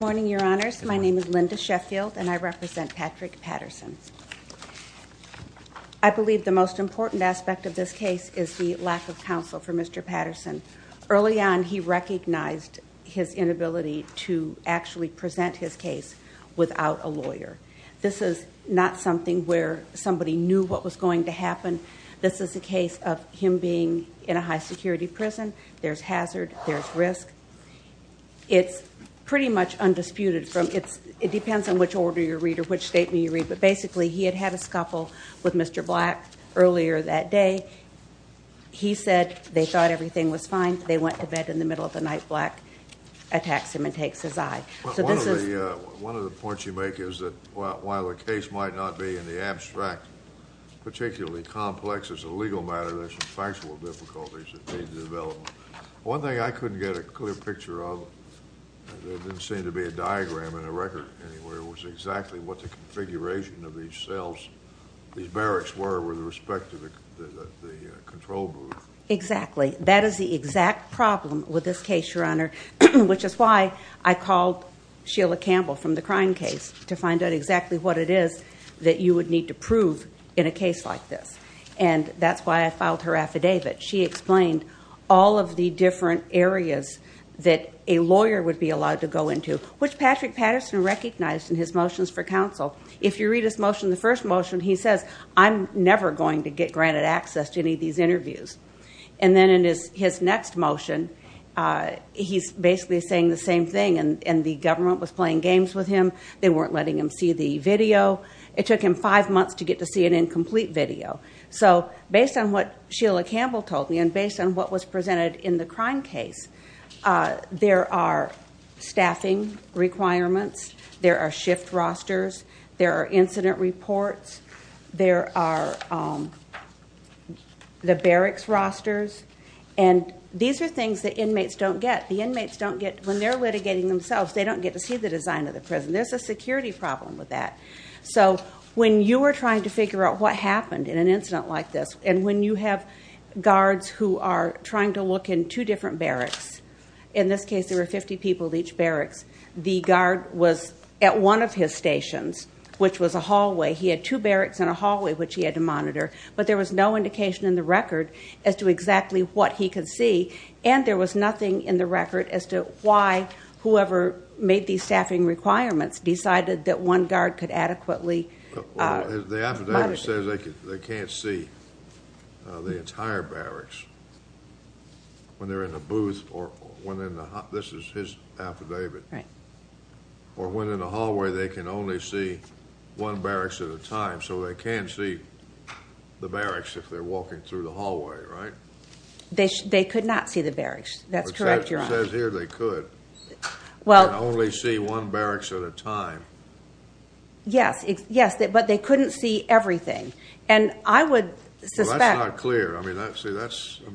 Good morning, your honors. My name is Linda Sheffield and I represent Patrick Patterson. I believe the most important aspect of this case is the lack of counsel for Mr. Patterson. Early on, he recognized his inability to actually present his case without a lawyer. This is not something where somebody knew what was going to happen. This is a case of him being in a high-security prison. There's hazard, there's risk. It's pretty much undisputed. It depends on which order you read or which statement you read. But basically, he had had a scuffle with Mr. Black earlier that day. He said they thought everything was fine. They went to bed in the middle of the night. Black attacks him and takes his eye. One of the points you make is that while the case might not be in the abstract, particularly complex as a legal matter, there's some factual difficulties that need to develop. One thing I couldn't get a clear picture of, there didn't seem to be a diagram in the record anywhere, was exactly what the configuration of these cells, these barracks were with respect to the control booth. Exactly. That is the exact problem with this case, your honor, which is why I called Sheila Campbell from the crime case to find out exactly what it is that you would need to prove in a case like this. That's why I filed her affidavit. She explained all of the different areas that a lawyer would be allowed to go into, which Patrick Patterson recognized in his motions for counsel. If you read his motion, the first motion, he says, I'm never going to get granted access to any of these interviews. And then in his next motion, he's basically saying the same thing. And the government was playing games with him. They weren't letting him see the video. It took him five months to get to see an incomplete video. So based on what Sheila Campbell told me and based on what was presented in the crime case, there are staffing requirements, there are shift rosters, there are incident reports, there are the barracks rosters. And these are things that inmates don't get. The inmates don't get, when they're litigating themselves, they don't get to see the design of the prison. There's a security problem with that. So when you are trying to figure out what happened in an incident like this, and when you have guards who are trying to look in two different barracks, in this case there were 50 people at each barracks. The guard was at one of his stations, which was a hallway. He had two barracks and a hallway, which he had to monitor. But there was no indication in the record as to exactly what he could see. And there was nothing in the record as to why whoever made these staffing requirements decided that one guard could adequately monitor. The affidavit says they can't see the entire barracks when they're in the booth or when in the hall. This is his affidavit. Right. Or when in the hallway, they can only see one barracks at a time. So they can see the barracks if they're walking through the hallway, right? They could not see the barracks. That's correct, Your Honor. It says here they could and only see one barracks at a time. Yes, yes, but they couldn't see everything. And I would suspect. Well, that's not clear. I mean, that's a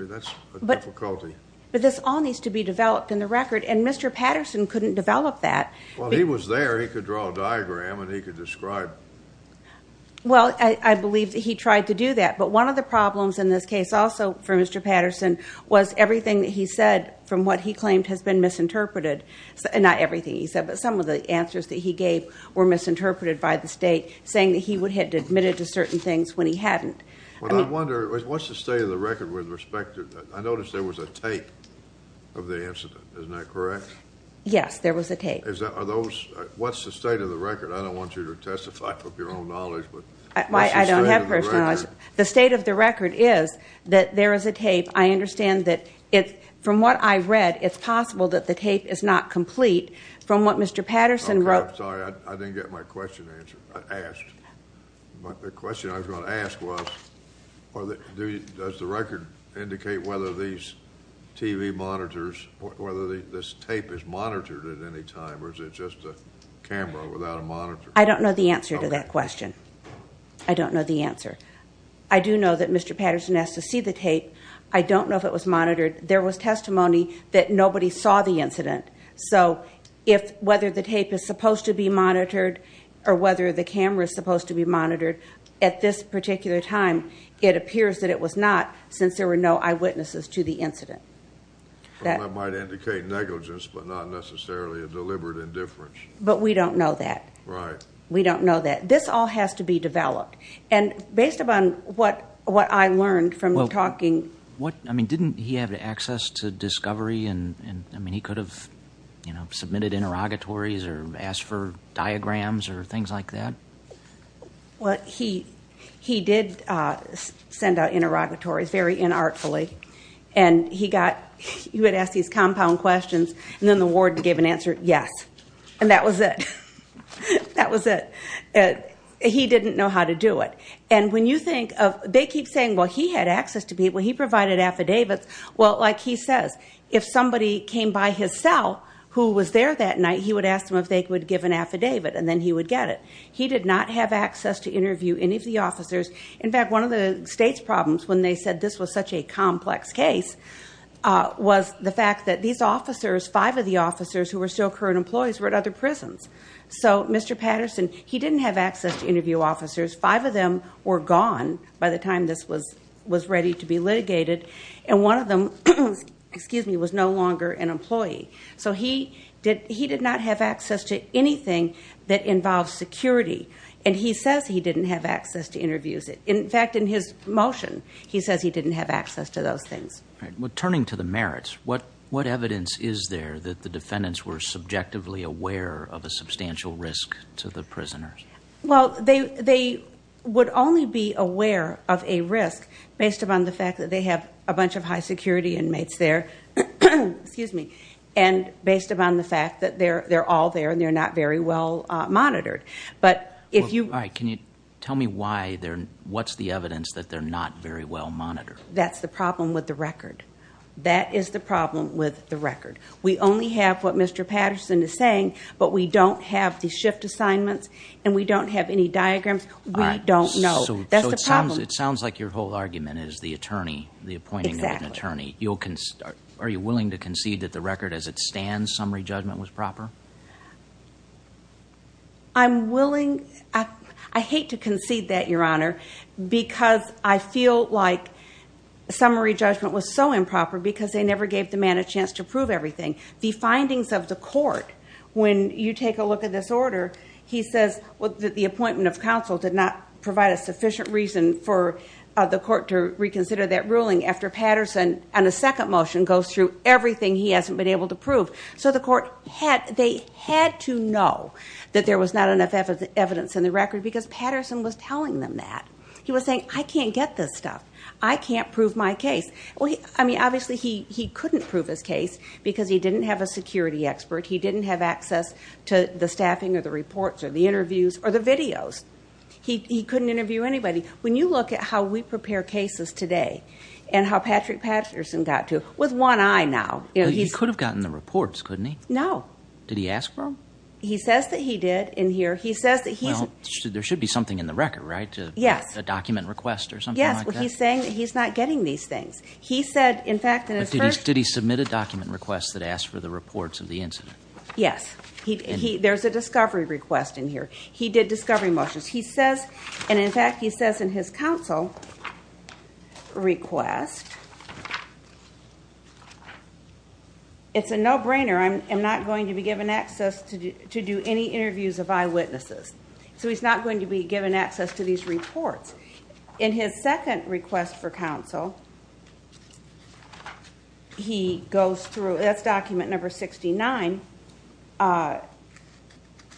difficulty. But this all needs to be developed in the record, and Mr. Patterson couldn't develop that. Well, he was there. He could draw a diagram and he could describe. Well, I believe he tried to do that. But one of the problems in this case, also for Mr. Patterson, was everything that he said from what he claimed has been misinterpreted. Not everything he said, but some of the answers that he gave were misinterpreted by the state, saying that he would have admitted to certain things when he hadn't. Well, I wonder, what's the state of the record with respect to that? I noticed there was a tape of the incident. Isn't that correct? Yes, there was a tape. What's the state of the record? The state of the record is that there is a tape. I understand that from what I read, it's possible that the tape is not complete. From what Mr. Patterson wrote. Sorry, I didn't get my question asked. The question I was going to ask was, does the record indicate whether these TV monitors, whether this tape is monitored at any time, or is it just a camera without a monitor? I don't know the answer to that question. I don't know the answer. I do know that Mr. Patterson asked to see the tape. I don't know if it was monitored. There was testimony that nobody saw the incident. So, whether the tape is supposed to be monitored or whether the camera is supposed to be monitored, at this particular time, it appears that it was not, since there were no eyewitnesses to the incident. That might indicate negligence, but not necessarily a deliberate indifference. But we don't know that. Right. We don't know that. This all has to be developed. And based upon what I learned from talking. I mean, didn't he have access to discovery? I mean, he could have submitted interrogatories or asked for diagrams or things like that. Well, he did send out interrogatories, very inartfully. And he got, he would ask these compound questions, and then the ward gave an answer, yes. And that was it. That was it. He didn't know how to do it. And when you think of, they keep saying, well, he had access to people. He provided affidavits. Well, like he says, if somebody came by his cell who was there that night, he would ask them if they would give an affidavit, and then he would get it. He did not have access to interview any of the officers. In fact, one of the state's problems when they said this was such a complex case, was the fact that these officers, five of the officers who were still current employees, were at other prisons. So Mr. Patterson, he didn't have access to interview officers. Five of them were gone by the time this was ready to be litigated. And one of them was no longer an employee. So he did not have access to anything that involved security. And he says he didn't have access to interviews. In fact, in his motion, he says he didn't have access to those things. Well, turning to the merits, what evidence is there that the defendants were subjectively aware of a substantial risk to the prisoners? Well, they would only be aware of a risk based upon the fact that they have a bunch of high security inmates there, and based upon the fact that they're all there and they're not very well monitored. All right, can you tell me what's the evidence that they're not very well monitored? That's the problem with the record. That is the problem with the record. We only have what Mr. Patterson is saying, but we don't have the shift assignments and we don't have any diagrams. We don't know. So it sounds like your whole argument is the attorney, the appointing of an attorney. Exactly. Are you willing to concede that the record as it stands, summary judgment, was proper? I'm willing. I hate to concede that, Your Honor, because I feel like summary judgment was so improper because they never gave the man a chance to prove everything. The findings of the court, when you take a look at this order, he says that the appointment of counsel did not provide a sufficient reason for the court to reconsider that ruling after Patterson, on a second motion, goes through everything he hasn't been able to prove. So the court had to know that there was not enough evidence in the record because Patterson was telling them that. He was saying, I can't get this stuff. I can't prove my case. I mean, obviously, he couldn't prove his case because he didn't have a security expert. He didn't have access to the staffing or the reports or the interviews or the videos. He couldn't interview anybody. When you look at how we prepare cases today and how Patrick Patterson got to, with one eye now. He could have gotten the reports, couldn't he? No. Did he ask for them? He says that he did in here. Well, there should be something in the record, right? Yes. A document request or something like that? Yes. He's saying that he's not getting these things. He said, in fact, in his first... Did he submit a document request that asked for the reports of the incident? Yes. There's a discovery request in here. He did discovery motions. He says, and in fact, he says in his counsel request, it's a no-brainer. I'm not going to be given access to do any interviews of eyewitnesses. So he's not going to be given access to these reports. In his second request for counsel, he goes through. That's document number 69.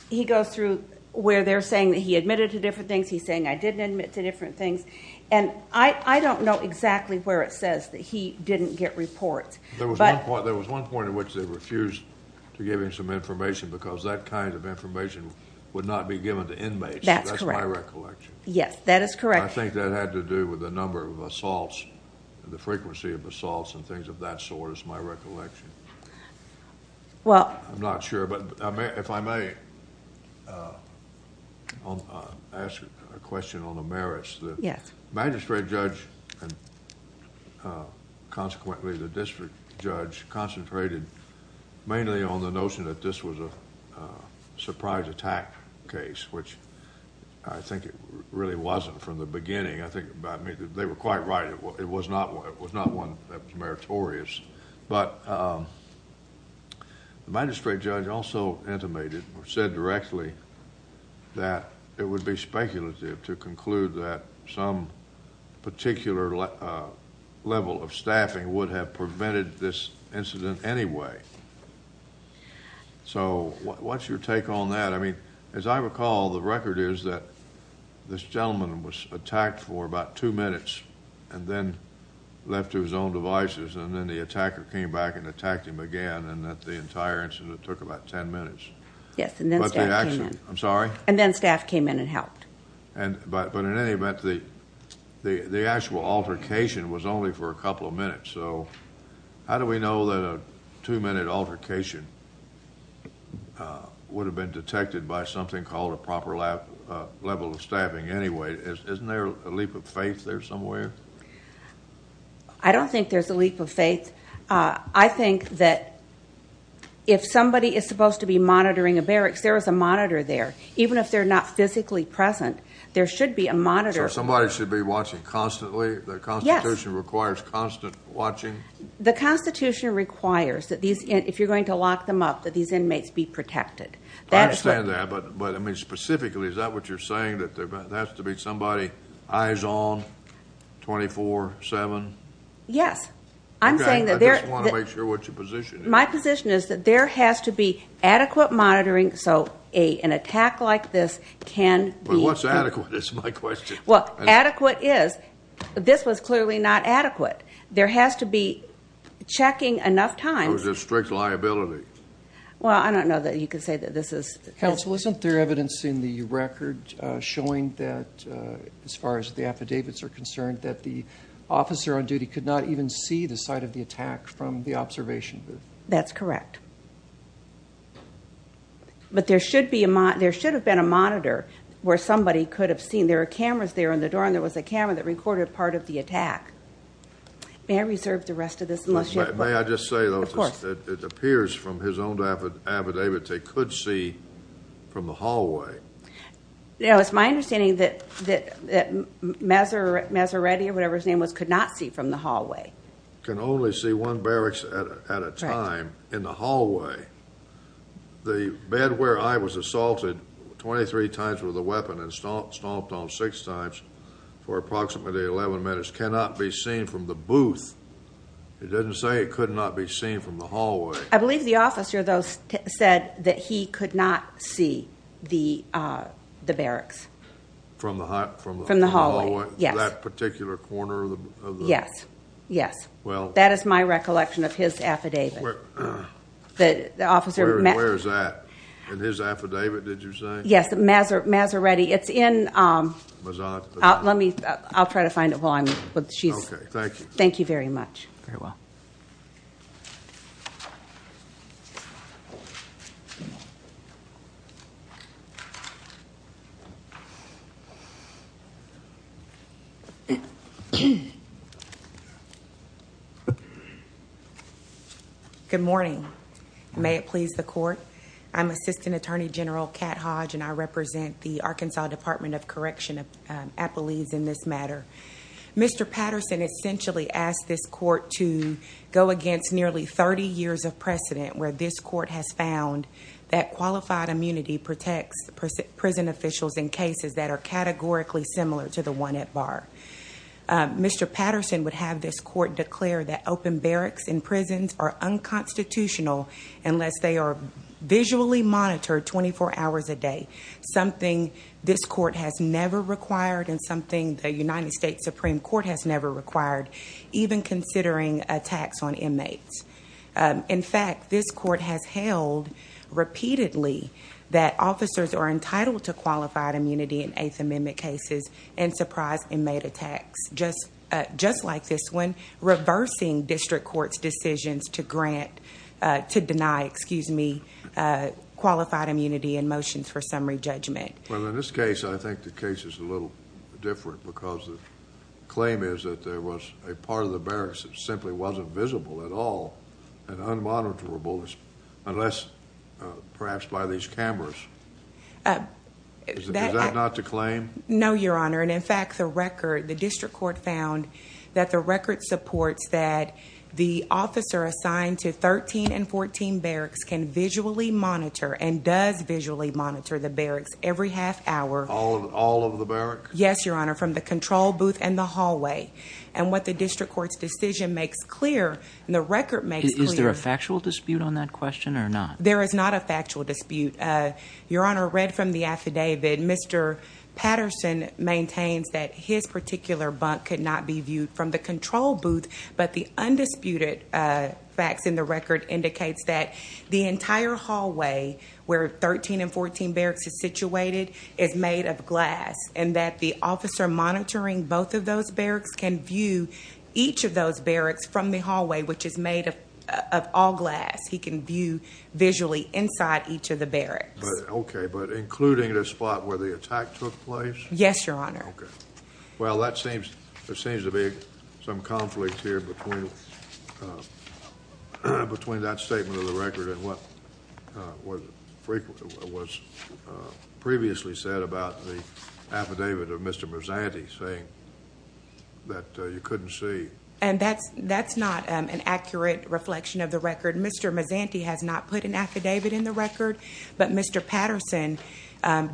He goes through where they're saying that he admitted to different things. He's saying, I didn't admit to different things. And I don't know exactly where it says that he didn't get reports. There was one point at which they refused to give him some information because that kind of information would not be given to inmates. That's correct. That's my recollection. Yes, that is correct. I think that had to do with the number of assaults, the frequency of assaults and things of that sort is my recollection. Well... I'm not sure, but if I may ask a question on the merits. Yes. The magistrate judge and consequently the district judge concentrated mainly on the notion that this was a surprise attack case, which I think it really wasn't from the beginning. I think they were quite right. It was not one that was meritorious. But the magistrate judge also intimated or said directly that it would be speculative to conclude that some particular level of staffing would have prevented this incident anyway. So what's your take on that? As I recall, the record is that this gentleman was attacked for about two minutes and then left to his own devices, and then the attacker came back and attacked him again, and that the entire incident took about ten minutes. Yes, and then staff came in. I'm sorry? And then staff came in and helped. But in any event, the actual altercation was only for a couple of minutes. So how do we know that a two-minute altercation would have been detected by something called a proper level of staffing anyway? Isn't there a leap of faith there somewhere? I don't think there's a leap of faith. I think that if somebody is supposed to be monitoring a barracks, there is a monitor there. Even if they're not physically present, there should be a monitor. So somebody should be watching constantly? Yes. The Constitution requires constant watching? The Constitution requires that if you're going to lock them up, that these inmates be protected. I understand that. But, I mean, specifically, is that what you're saying, that there has to be somebody eyes on 24-7? Yes. I'm saying that there is. I just want to make sure what your position is. My position is that there has to be adequate monitoring so an attack like this can be. Well, what's adequate is my question. Well, adequate is this was clearly not adequate. There has to be checking enough times. Or is there strict liability? Well, I don't know that you can say that this is. Counsel, isn't there evidence in the record showing that, as far as the affidavits are concerned, that the officer on duty could not even see the site of the attack from the observation booth? That's correct. But there should have been a monitor where somebody could have seen. There are cameras there on the door, and there was a camera that recorded part of the attack. May I reserve the rest of this? May I just say, though, it appears from his own affidavit they could see from the hallway. It's my understanding that Maserati or whatever his name was could not see from the hallway. Can only see one barracks at a time in the hallway. The bed where I was assaulted 23 times with a weapon and stomped on six times for approximately 11 minutes cannot be seen from the booth. It doesn't say it could not be seen from the hallway. I believe the officer, though, said that he could not see the barracks. From the hallway? From the hallway, yes. That particular corner? Yes. That is my recollection of his affidavit. Where is that? In his affidavit, did you say? Yes, Maserati. I'll try to find it. Thank you. Thank you very much. Very well. Good morning. May it please the Court. I'm Assistant Attorney General Cat Hodge, and I represent the Arkansas Department of Correction at Appalooze in this matter. Mr. Patterson essentially asked this court to go against nearly 30 years of precedent where this court has found that qualified immunity protects prison officials in cases that are categorically similar to the one at Barr. Mr. Patterson would have this court declare that open barracks in prisons are unconstitutional unless they are visually monitored 24 hours a day, something this court has never required and something the United States Supreme Court has never required, even considering attacks on inmates. In fact, this court has held repeatedly that officers are entitled to qualified immunity in Eighth Amendment cases and surprise inmate attacks just like this one, Well, in this case, I think the case is a little different because the claim is that there was a part of the barracks that simply wasn't visible at all and unmonitorable unless perhaps by these cameras. Is that not the claim? No, Your Honor. And in fact, the record, the district court found that the record supports that the officer assigned to 13 and 14 barracks can visually monitor and does visually monitor the barracks every half hour. All of the barracks? Yes, Your Honor, from the control booth and the hallway. And what the district court's decision makes clear and the record makes clear, Is there a factual dispute on that question or not? There is not a factual dispute. Your Honor, read from the affidavit, Mr. Patterson maintains that his particular bunk could not be viewed from the control booth, but the undisputed facts in the record indicates that the entire hallway where 13 and 14 barracks is situated is made of glass and that the officer monitoring both of those barracks can view each of those barracks from the hallway, which is made of all glass. He can view visually inside each of the barracks. Okay, but including the spot where the attack took place? Yes, Your Honor. Okay. Well, there seems to be some conflict here between that statement of the record and what was previously said about the affidavit of Mr. Mazzanti saying that you couldn't see. And that's not an accurate reflection of the record. Mr. Mazzanti has not put an affidavit in the record, but Mr. Patterson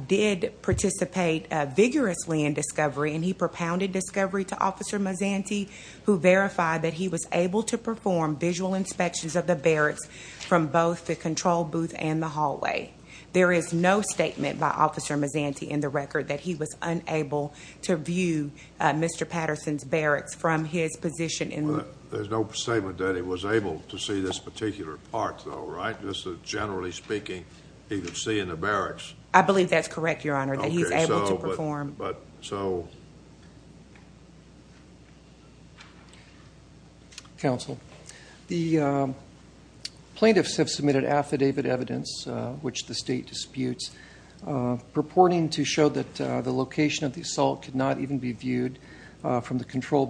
did participate vigorously in discovery and he propounded discovery to Officer Mazzanti who verified that he was able to perform visual inspections of the barracks from both the control booth and the hallway. There is no statement by Officer Mazzanti in the record that he was unable to view Mr. Patterson's barracks from his position. There's no statement that he was able to see this particular part, though, right? Just generally speaking, he could see in the barracks. I believe that's correct, Your Honor, that he's able to perform. Okay, so, but, so. Counsel, the plaintiffs have submitted affidavit evidence, which the state disputes, purporting to show that the location of the assault could not even be viewed from the control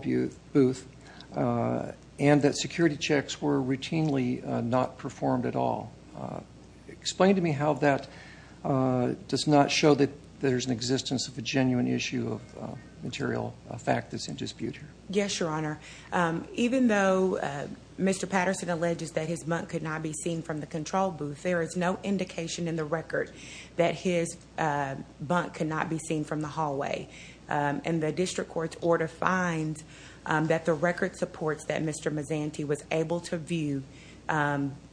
booth and that security checks were routinely not performed at all. Explain to me how that does not show that there's an existence of a genuine issue of material fact that's in dispute here. Yes, Your Honor. Even though Mr. Patterson alleges that his bunk could not be seen from the control booth, there is no indication in the record that his bunk could not be seen from the hallway. And the district court's order finds that the record supports that Mr. Mazzanti was able to view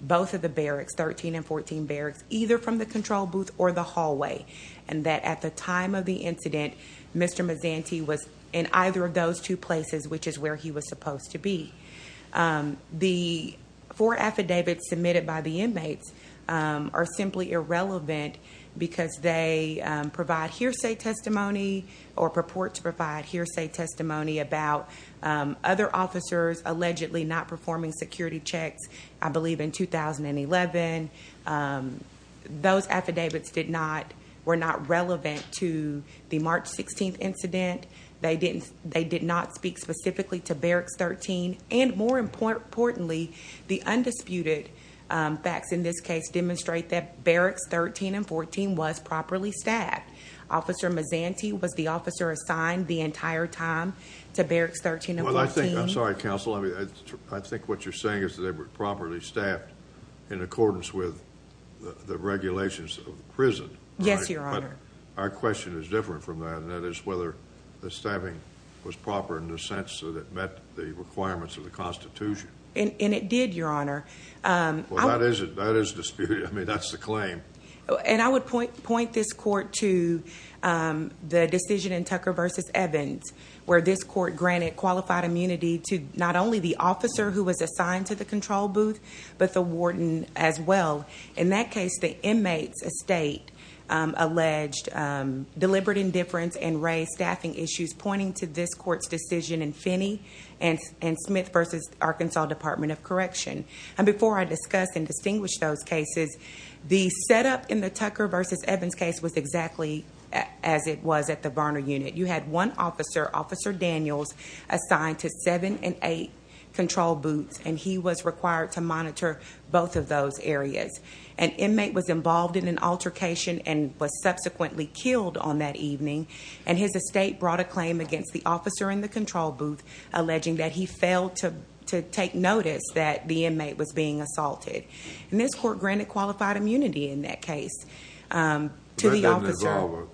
both of the barracks, 13 and 14 barracks, either from the control booth or the hallway, and that at the time of the incident, Mr. Mazzanti was in either of those two places, which is where he was supposed to be. The four affidavits submitted by the inmates are simply irrelevant because they provide hearsay testimony or purport to provide hearsay testimony about other officers allegedly not performing security checks, I believe, in 2011. Those affidavits were not relevant to the March 16th incident. They did not speak specifically to barracks 13. And more importantly, the undisputed facts in this case demonstrate that barracks 13 and 14 was properly staffed. Officer Mazzanti was the officer assigned the entire time to barracks 13 and 14. I'm sorry, counsel. I think what you're saying is that they were properly staffed in accordance with the regulations of the prison. Yes, Your Honor. But our question is different from that, and that is whether the staffing was proper in the sense that it met the requirements of the Constitution. And it did, Your Honor. Well, that is disputed. I mean, that's the claim. And I would point this court to the decision in Tucker v. Evans where this court granted qualified immunity to not only the officer who was assigned to the control booth, but the warden as well. In that case, the inmate's estate alleged deliberate indifference and raised staffing issues pointing to this court's decision in Finney and Smith v. Arkansas Department of Correction. And before I discuss and distinguish those cases, the setup in the Tucker v. Evans case was exactly as it was at the Varner unit. You had one officer, Officer Daniels, assigned to seven and eight control booths, and he was required to monitor both of those areas. An inmate was involved in an altercation and was subsequently killed on that evening, and his estate brought a claim against the officer in the control booth alleging that he failed to take notice that the inmate was being assaulted. And this court granted qualified immunity in that case to the officer.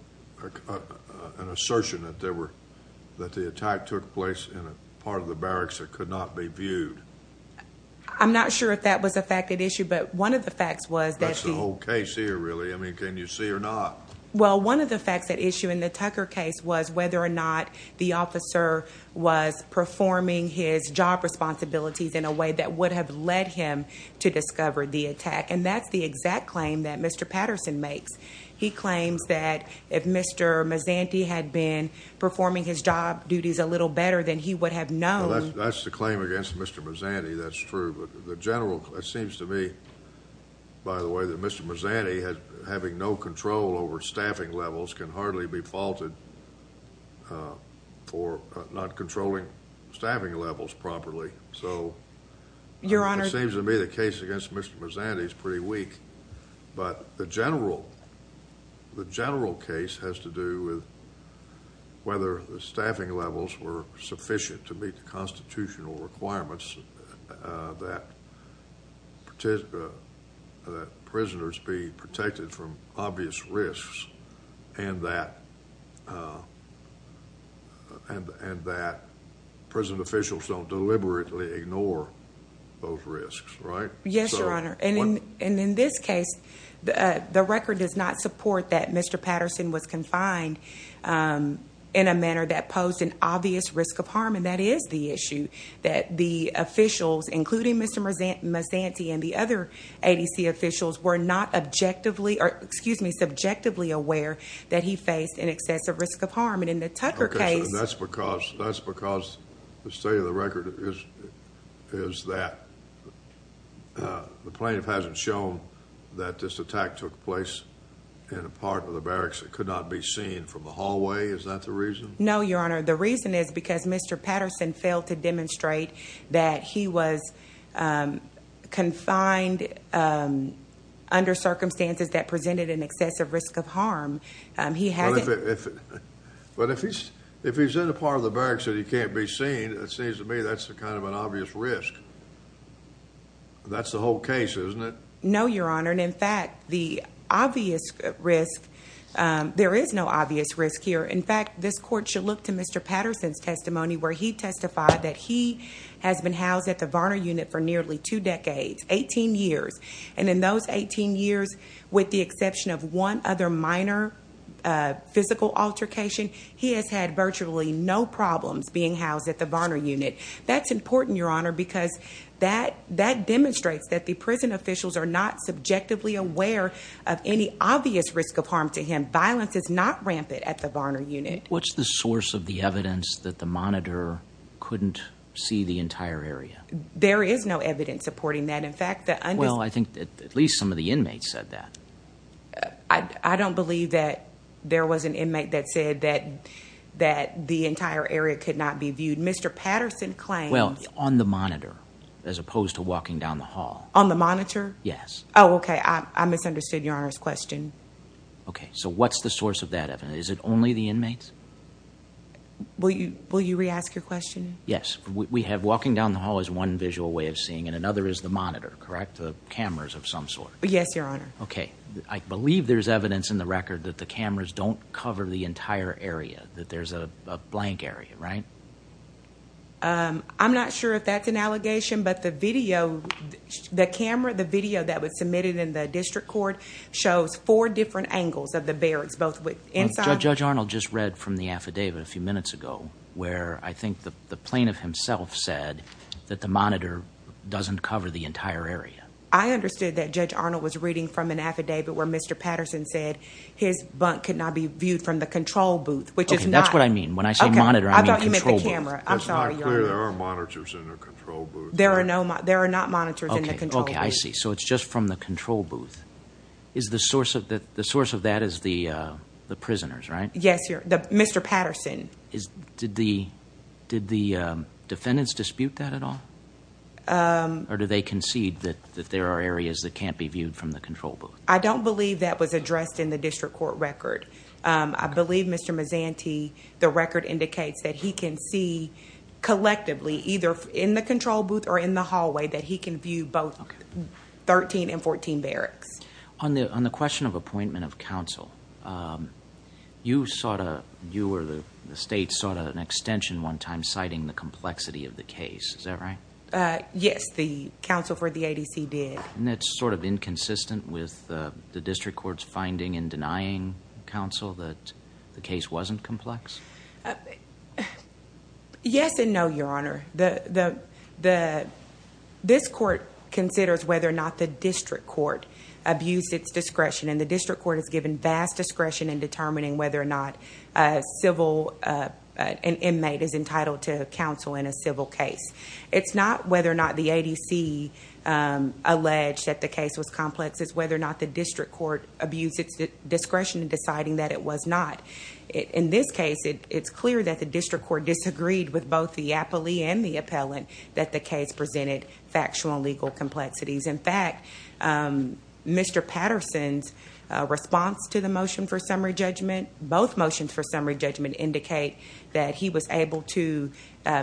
An assertion that the attack took place in a part of the barracks that could not be viewed. I'm not sure if that was a fact at issue, but one of the facts was that the— That's the whole case here, really. I mean, can you see or not? Well, one of the facts at issue in the Tucker case was whether or not the officer was performing his job responsibilities in a way that would have led him to discover the attack, and that's the exact claim that Mr. Patterson makes. He claims that if Mr. Mazzanti had been performing his job duties a little better, then he would have known— Well, that's the claim against Mr. Mazzanti. That's true. But the general—it seems to me, by the way, that Mr. Mazzanti, having no control over staffing levels, can hardly be faulted for not controlling staffing levels properly. So it seems to me the case against Mr. Mazzanti is pretty weak. But the general case has to do with whether the staffing levels were sufficient to meet the constitutional requirements that prisoners be protected from obvious risks and that prison officials don't deliberately ignore those risks, right? Yes, Your Honor. And in this case, the record does not support that Mr. Patterson was confined in a manner that posed an obvious risk of harm, and that is the issue, that the officials, including Mr. Mazzanti and the other ADC officials, were not subjectively aware that he faced an excessive risk of harm. And that's because the state of the record is that the plaintiff hasn't shown that this attack took place in a part of the barracks that could not be seen from the hallway. Is that the reason? No, Your Honor. The reason is because Mr. Patterson failed to demonstrate that he was confined under circumstances that presented an excessive risk of harm. But if he's in a part of the barracks that he can't be seen, it seems to me that's kind of an obvious risk. That's the whole case, isn't it? No, Your Honor. And in fact, the obvious risk, there is no obvious risk here. In fact, this court should look to Mr. Patterson's testimony where he testified that he has been housed at the Varner Unit for nearly two decades, 18 years. And in those 18 years, with the exception of one other minor physical altercation, he has had virtually no problems being housed at the Varner Unit. That's important, Your Honor, because that demonstrates that the prison officials are not subjectively aware of any obvious risk of harm to him. Violence is not rampant at the Varner Unit. What's the source of the evidence that the monitor couldn't see the entire area? There is no evidence supporting that. In fact, the… Well, I think at least some of the inmates said that. I don't believe that there was an inmate that said that the entire area could not be viewed. Mr. Patterson claimed… Well, on the monitor, as opposed to walking down the hall. On the monitor? Yes. Oh, okay. I misunderstood Your Honor's question. Okay. So what's the source of that evidence? Is it only the inmates? Will you re-ask your question? Yes. Walking down the hall is one visual way of seeing it. And another is the monitor, correct? The cameras of some sort. Yes, Your Honor. Okay. I believe there's evidence in the record that the cameras don't cover the entire area. That there's a blank area, right? I'm not sure if that's an allegation, but the video… The camera, the video that was submitted in the district court, shows four different angles of the barracks, both inside… Judge Arnold just read from the affidavit a few minutes ago, where I think the plaintiff himself said that the monitor doesn't cover the entire area. I understood that Judge Arnold was reading from an affidavit where Mr. Patterson said his bunk could not be viewed from the control booth, which is not… Okay. That's what I mean. When I say monitor, I mean control booth. Okay. I thought you meant the camera. I'm sorry, Your Honor. It's not clear there are monitors in the control booth. There are not monitors in the control booth. Okay. I see. So it's just from the control booth. The source of that is the prisoners, right? Yes. Mr. Patterson. Did the defendants dispute that at all? Or do they concede that there are areas that can't be viewed from the control booth? I don't believe that was addressed in the district court record. I believe Mr. Mazzanti, the record indicates that he can see collectively, either in the control booth or in the hallway, that he can view both 13 and 14 barracks. On the question of appointment of counsel, you sought a… You or the state sought an extension one time citing the complexity of the case. Is that right? Yes. The counsel for the ADC did. And that's sort of inconsistent with the district court's finding and denying counsel that the case wasn't complex? Yes and no, Your Honor. Your Honor, this court considers whether or not the district court abused its discretion. And the district court has given vast discretion in determining whether or not an inmate is entitled to counsel in a civil case. It's not whether or not the ADC alleged that the case was complex. It's whether or not the district court abused its discretion in deciding that it was not. In this case, it's clear that the district court disagreed with both the appellee and the appellant that the case presented factual and legal complexities. In fact, Mr. Patterson's response to the motion for summary judgment, both motions for summary judgment indicate that he was able to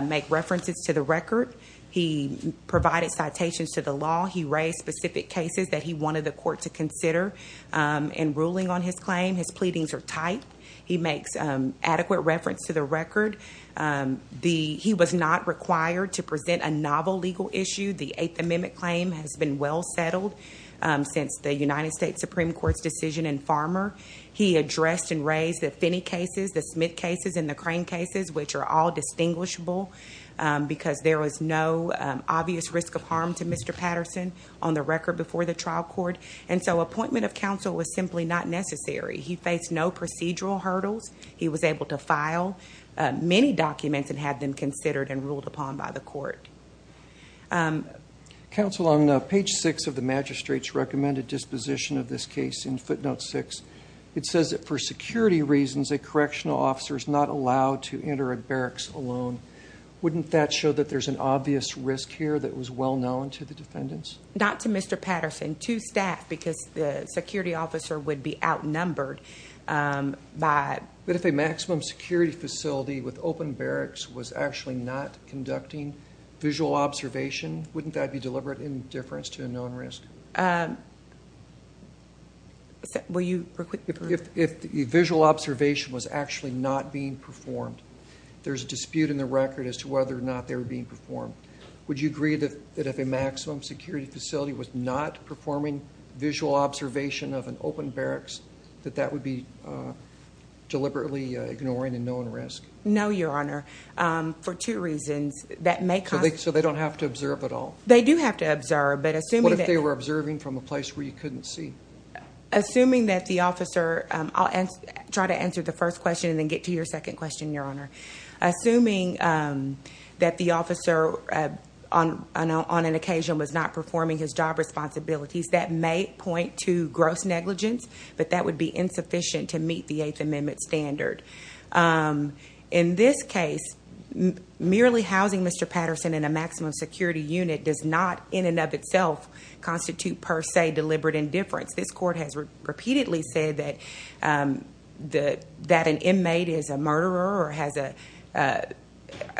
make references to the record. He provided citations to the law. He raised specific cases that he wanted the court to consider in ruling on his claim. His pleadings are tight. He makes adequate reference to the record. He was not required to present a novel legal issue. The Eighth Amendment claim has been well settled since the United States Supreme Court's decision in Farmer. He addressed and raised the Finney cases, the Smith cases, and the Crane cases, which are all distinguishable because there was no obvious risk of harm to Mr. Patterson on the record before the trial court. And so appointment of counsel was simply not necessary. He faced no procedural hurdles. He was able to file many documents and have them considered and ruled upon by the court. Counsel, on page six of the magistrate's recommended disposition of this case in footnote six, it says that for security reasons, a correctional officer is not allowed to enter a barracks alone. Wouldn't that show that there's an obvious risk here that was well known to the defendants? Not to Mr. Patterson, to staff, because the security officer would be outnumbered. But if a maximum security facility with open barracks was actually not conducting visual observation, wouldn't that be deliberate indifference to a known risk? Will you repeat the question? If visual observation was actually not being performed, there's a dispute in the record as to whether or not they were being performed. Would you agree that if a maximum security facility was not performing visual observation of an open barracks, that that would be deliberately ignoring a known risk? No, Your Honor, for two reasons. So they don't have to observe at all? They do have to observe. What if they were observing from a place where you couldn't see? I'll try to answer the first question and then get to your second question, Your Honor. Assuming that the officer on an occasion was not performing his job responsibilities, that may point to gross negligence, but that would be insufficient to meet the Eighth Amendment standard. In this case, merely housing Mr. Patterson in a maximum security unit does not in and of itself constitute per se deliberate indifference. This court has repeatedly said that an inmate is a murderer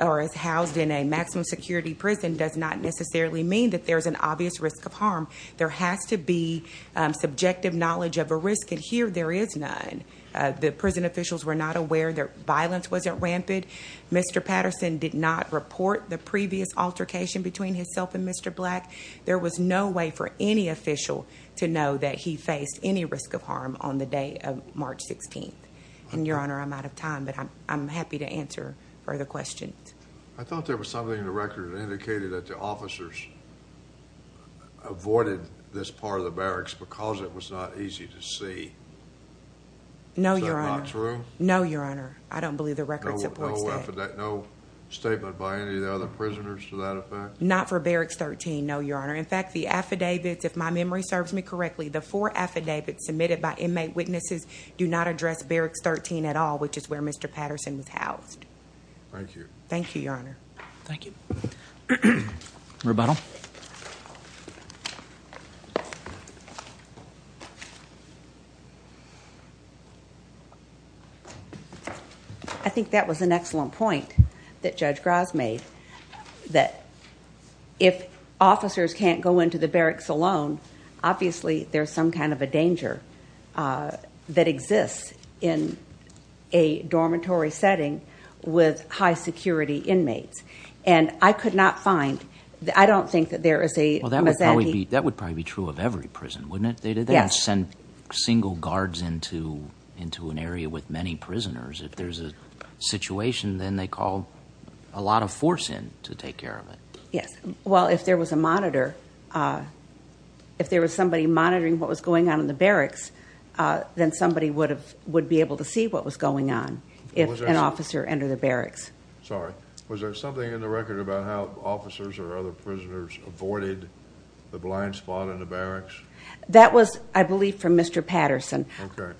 or is housed in a maximum security prison does not necessarily mean that there's an obvious risk of harm. There has to be subjective knowledge of a risk, and here there is none. The prison officials were not aware. Their violence wasn't rampant. Mr. Patterson did not report the previous altercation between himself and Mr. Black. There was no way for any official to know that he faced any risk of harm on the day of March 16th. And, Your Honor, I'm out of time, but I'm happy to answer further questions. I thought there was something in the record that indicated that the officers avoided this part of the barracks because it was not easy to see. No, Your Honor. Is that not true? No, Your Honor. I don't believe the record supports that. No statement by any of the other prisoners to that effect? Not for Barracks 13, no, Your Honor. In fact, the affidavits, if my memory serves me correctly, the four affidavits submitted by inmate witnesses do not address Barracks 13 at all, which is where Mr. Patterson was housed. Thank you. Thank you, Your Honor. Thank you. Rebuttal. I think that was an excellent point that Judge Gras made, that if officers can't go into the barracks alone, obviously there's some kind of a danger that exists in a dormitory setting with high security inmates. And I could not find, I don't think that there is a misandry. Well, that would probably be true of every prison, wouldn't it? Yes. They don't send single guards into an area with many prisoners. If there's a situation, then they call a lot of force in to take care of it. Yes. Well, if there was a monitor, if there was somebody monitoring what was going on in the barracks, then somebody would be able to see what was going on if an officer entered the barracks. Sorry. Was there something in the record about how officers or other prisoners avoided the blind spot in the barracks? That was, I believe, from Mr. Patterson. Okay.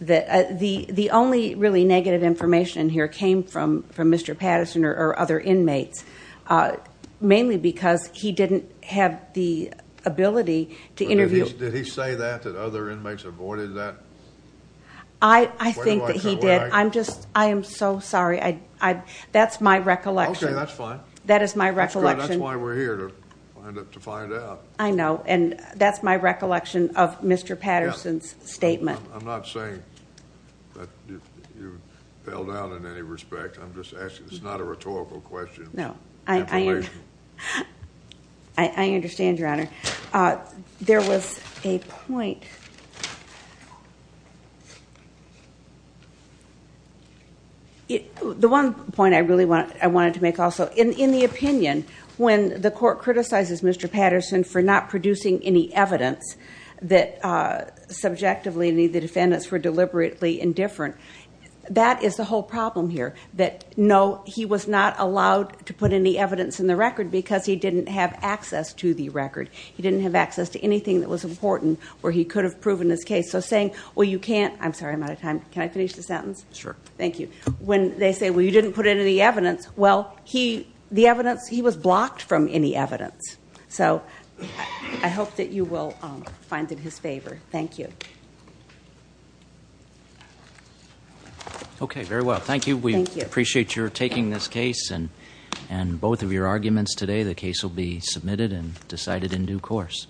The only really negative information in here came from Mr. Patterson or other inmates, mainly because he didn't have the ability to interview. Did he say that, that other inmates avoided that? I think that he did. I'm just, I am so sorry. That's my recollection. Okay, that's fine. That is my recollection. That's why we're here, to find out. I know, and that's my recollection of Mr. Patterson's statement. I'm not saying that you fell down in any respect. I'm just asking. It's not a rhetorical question. No. I understand, Your Honor. There was a point. The one point I really wanted to make also, in the opinion when the court criticizes Mr. Patterson for not producing any evidence that subjectively the defendants were deliberately indifferent, that is the whole problem here, that no, he was not allowed to put any evidence in the record because he didn't have access to the record. He didn't have access to anything that was important where he could have proven his case. So saying, well, you can't. I'm sorry, I'm out of time. Can I finish the sentence? Sure. Thank you. When they say, well, you didn't put any evidence. Well, the evidence, he was blocked from any evidence. So I hope that you will find it his favor. Thank you. Okay, very well. Thank you. We appreciate your taking this case and both of your arguments today. The case will be submitted and decided in due course.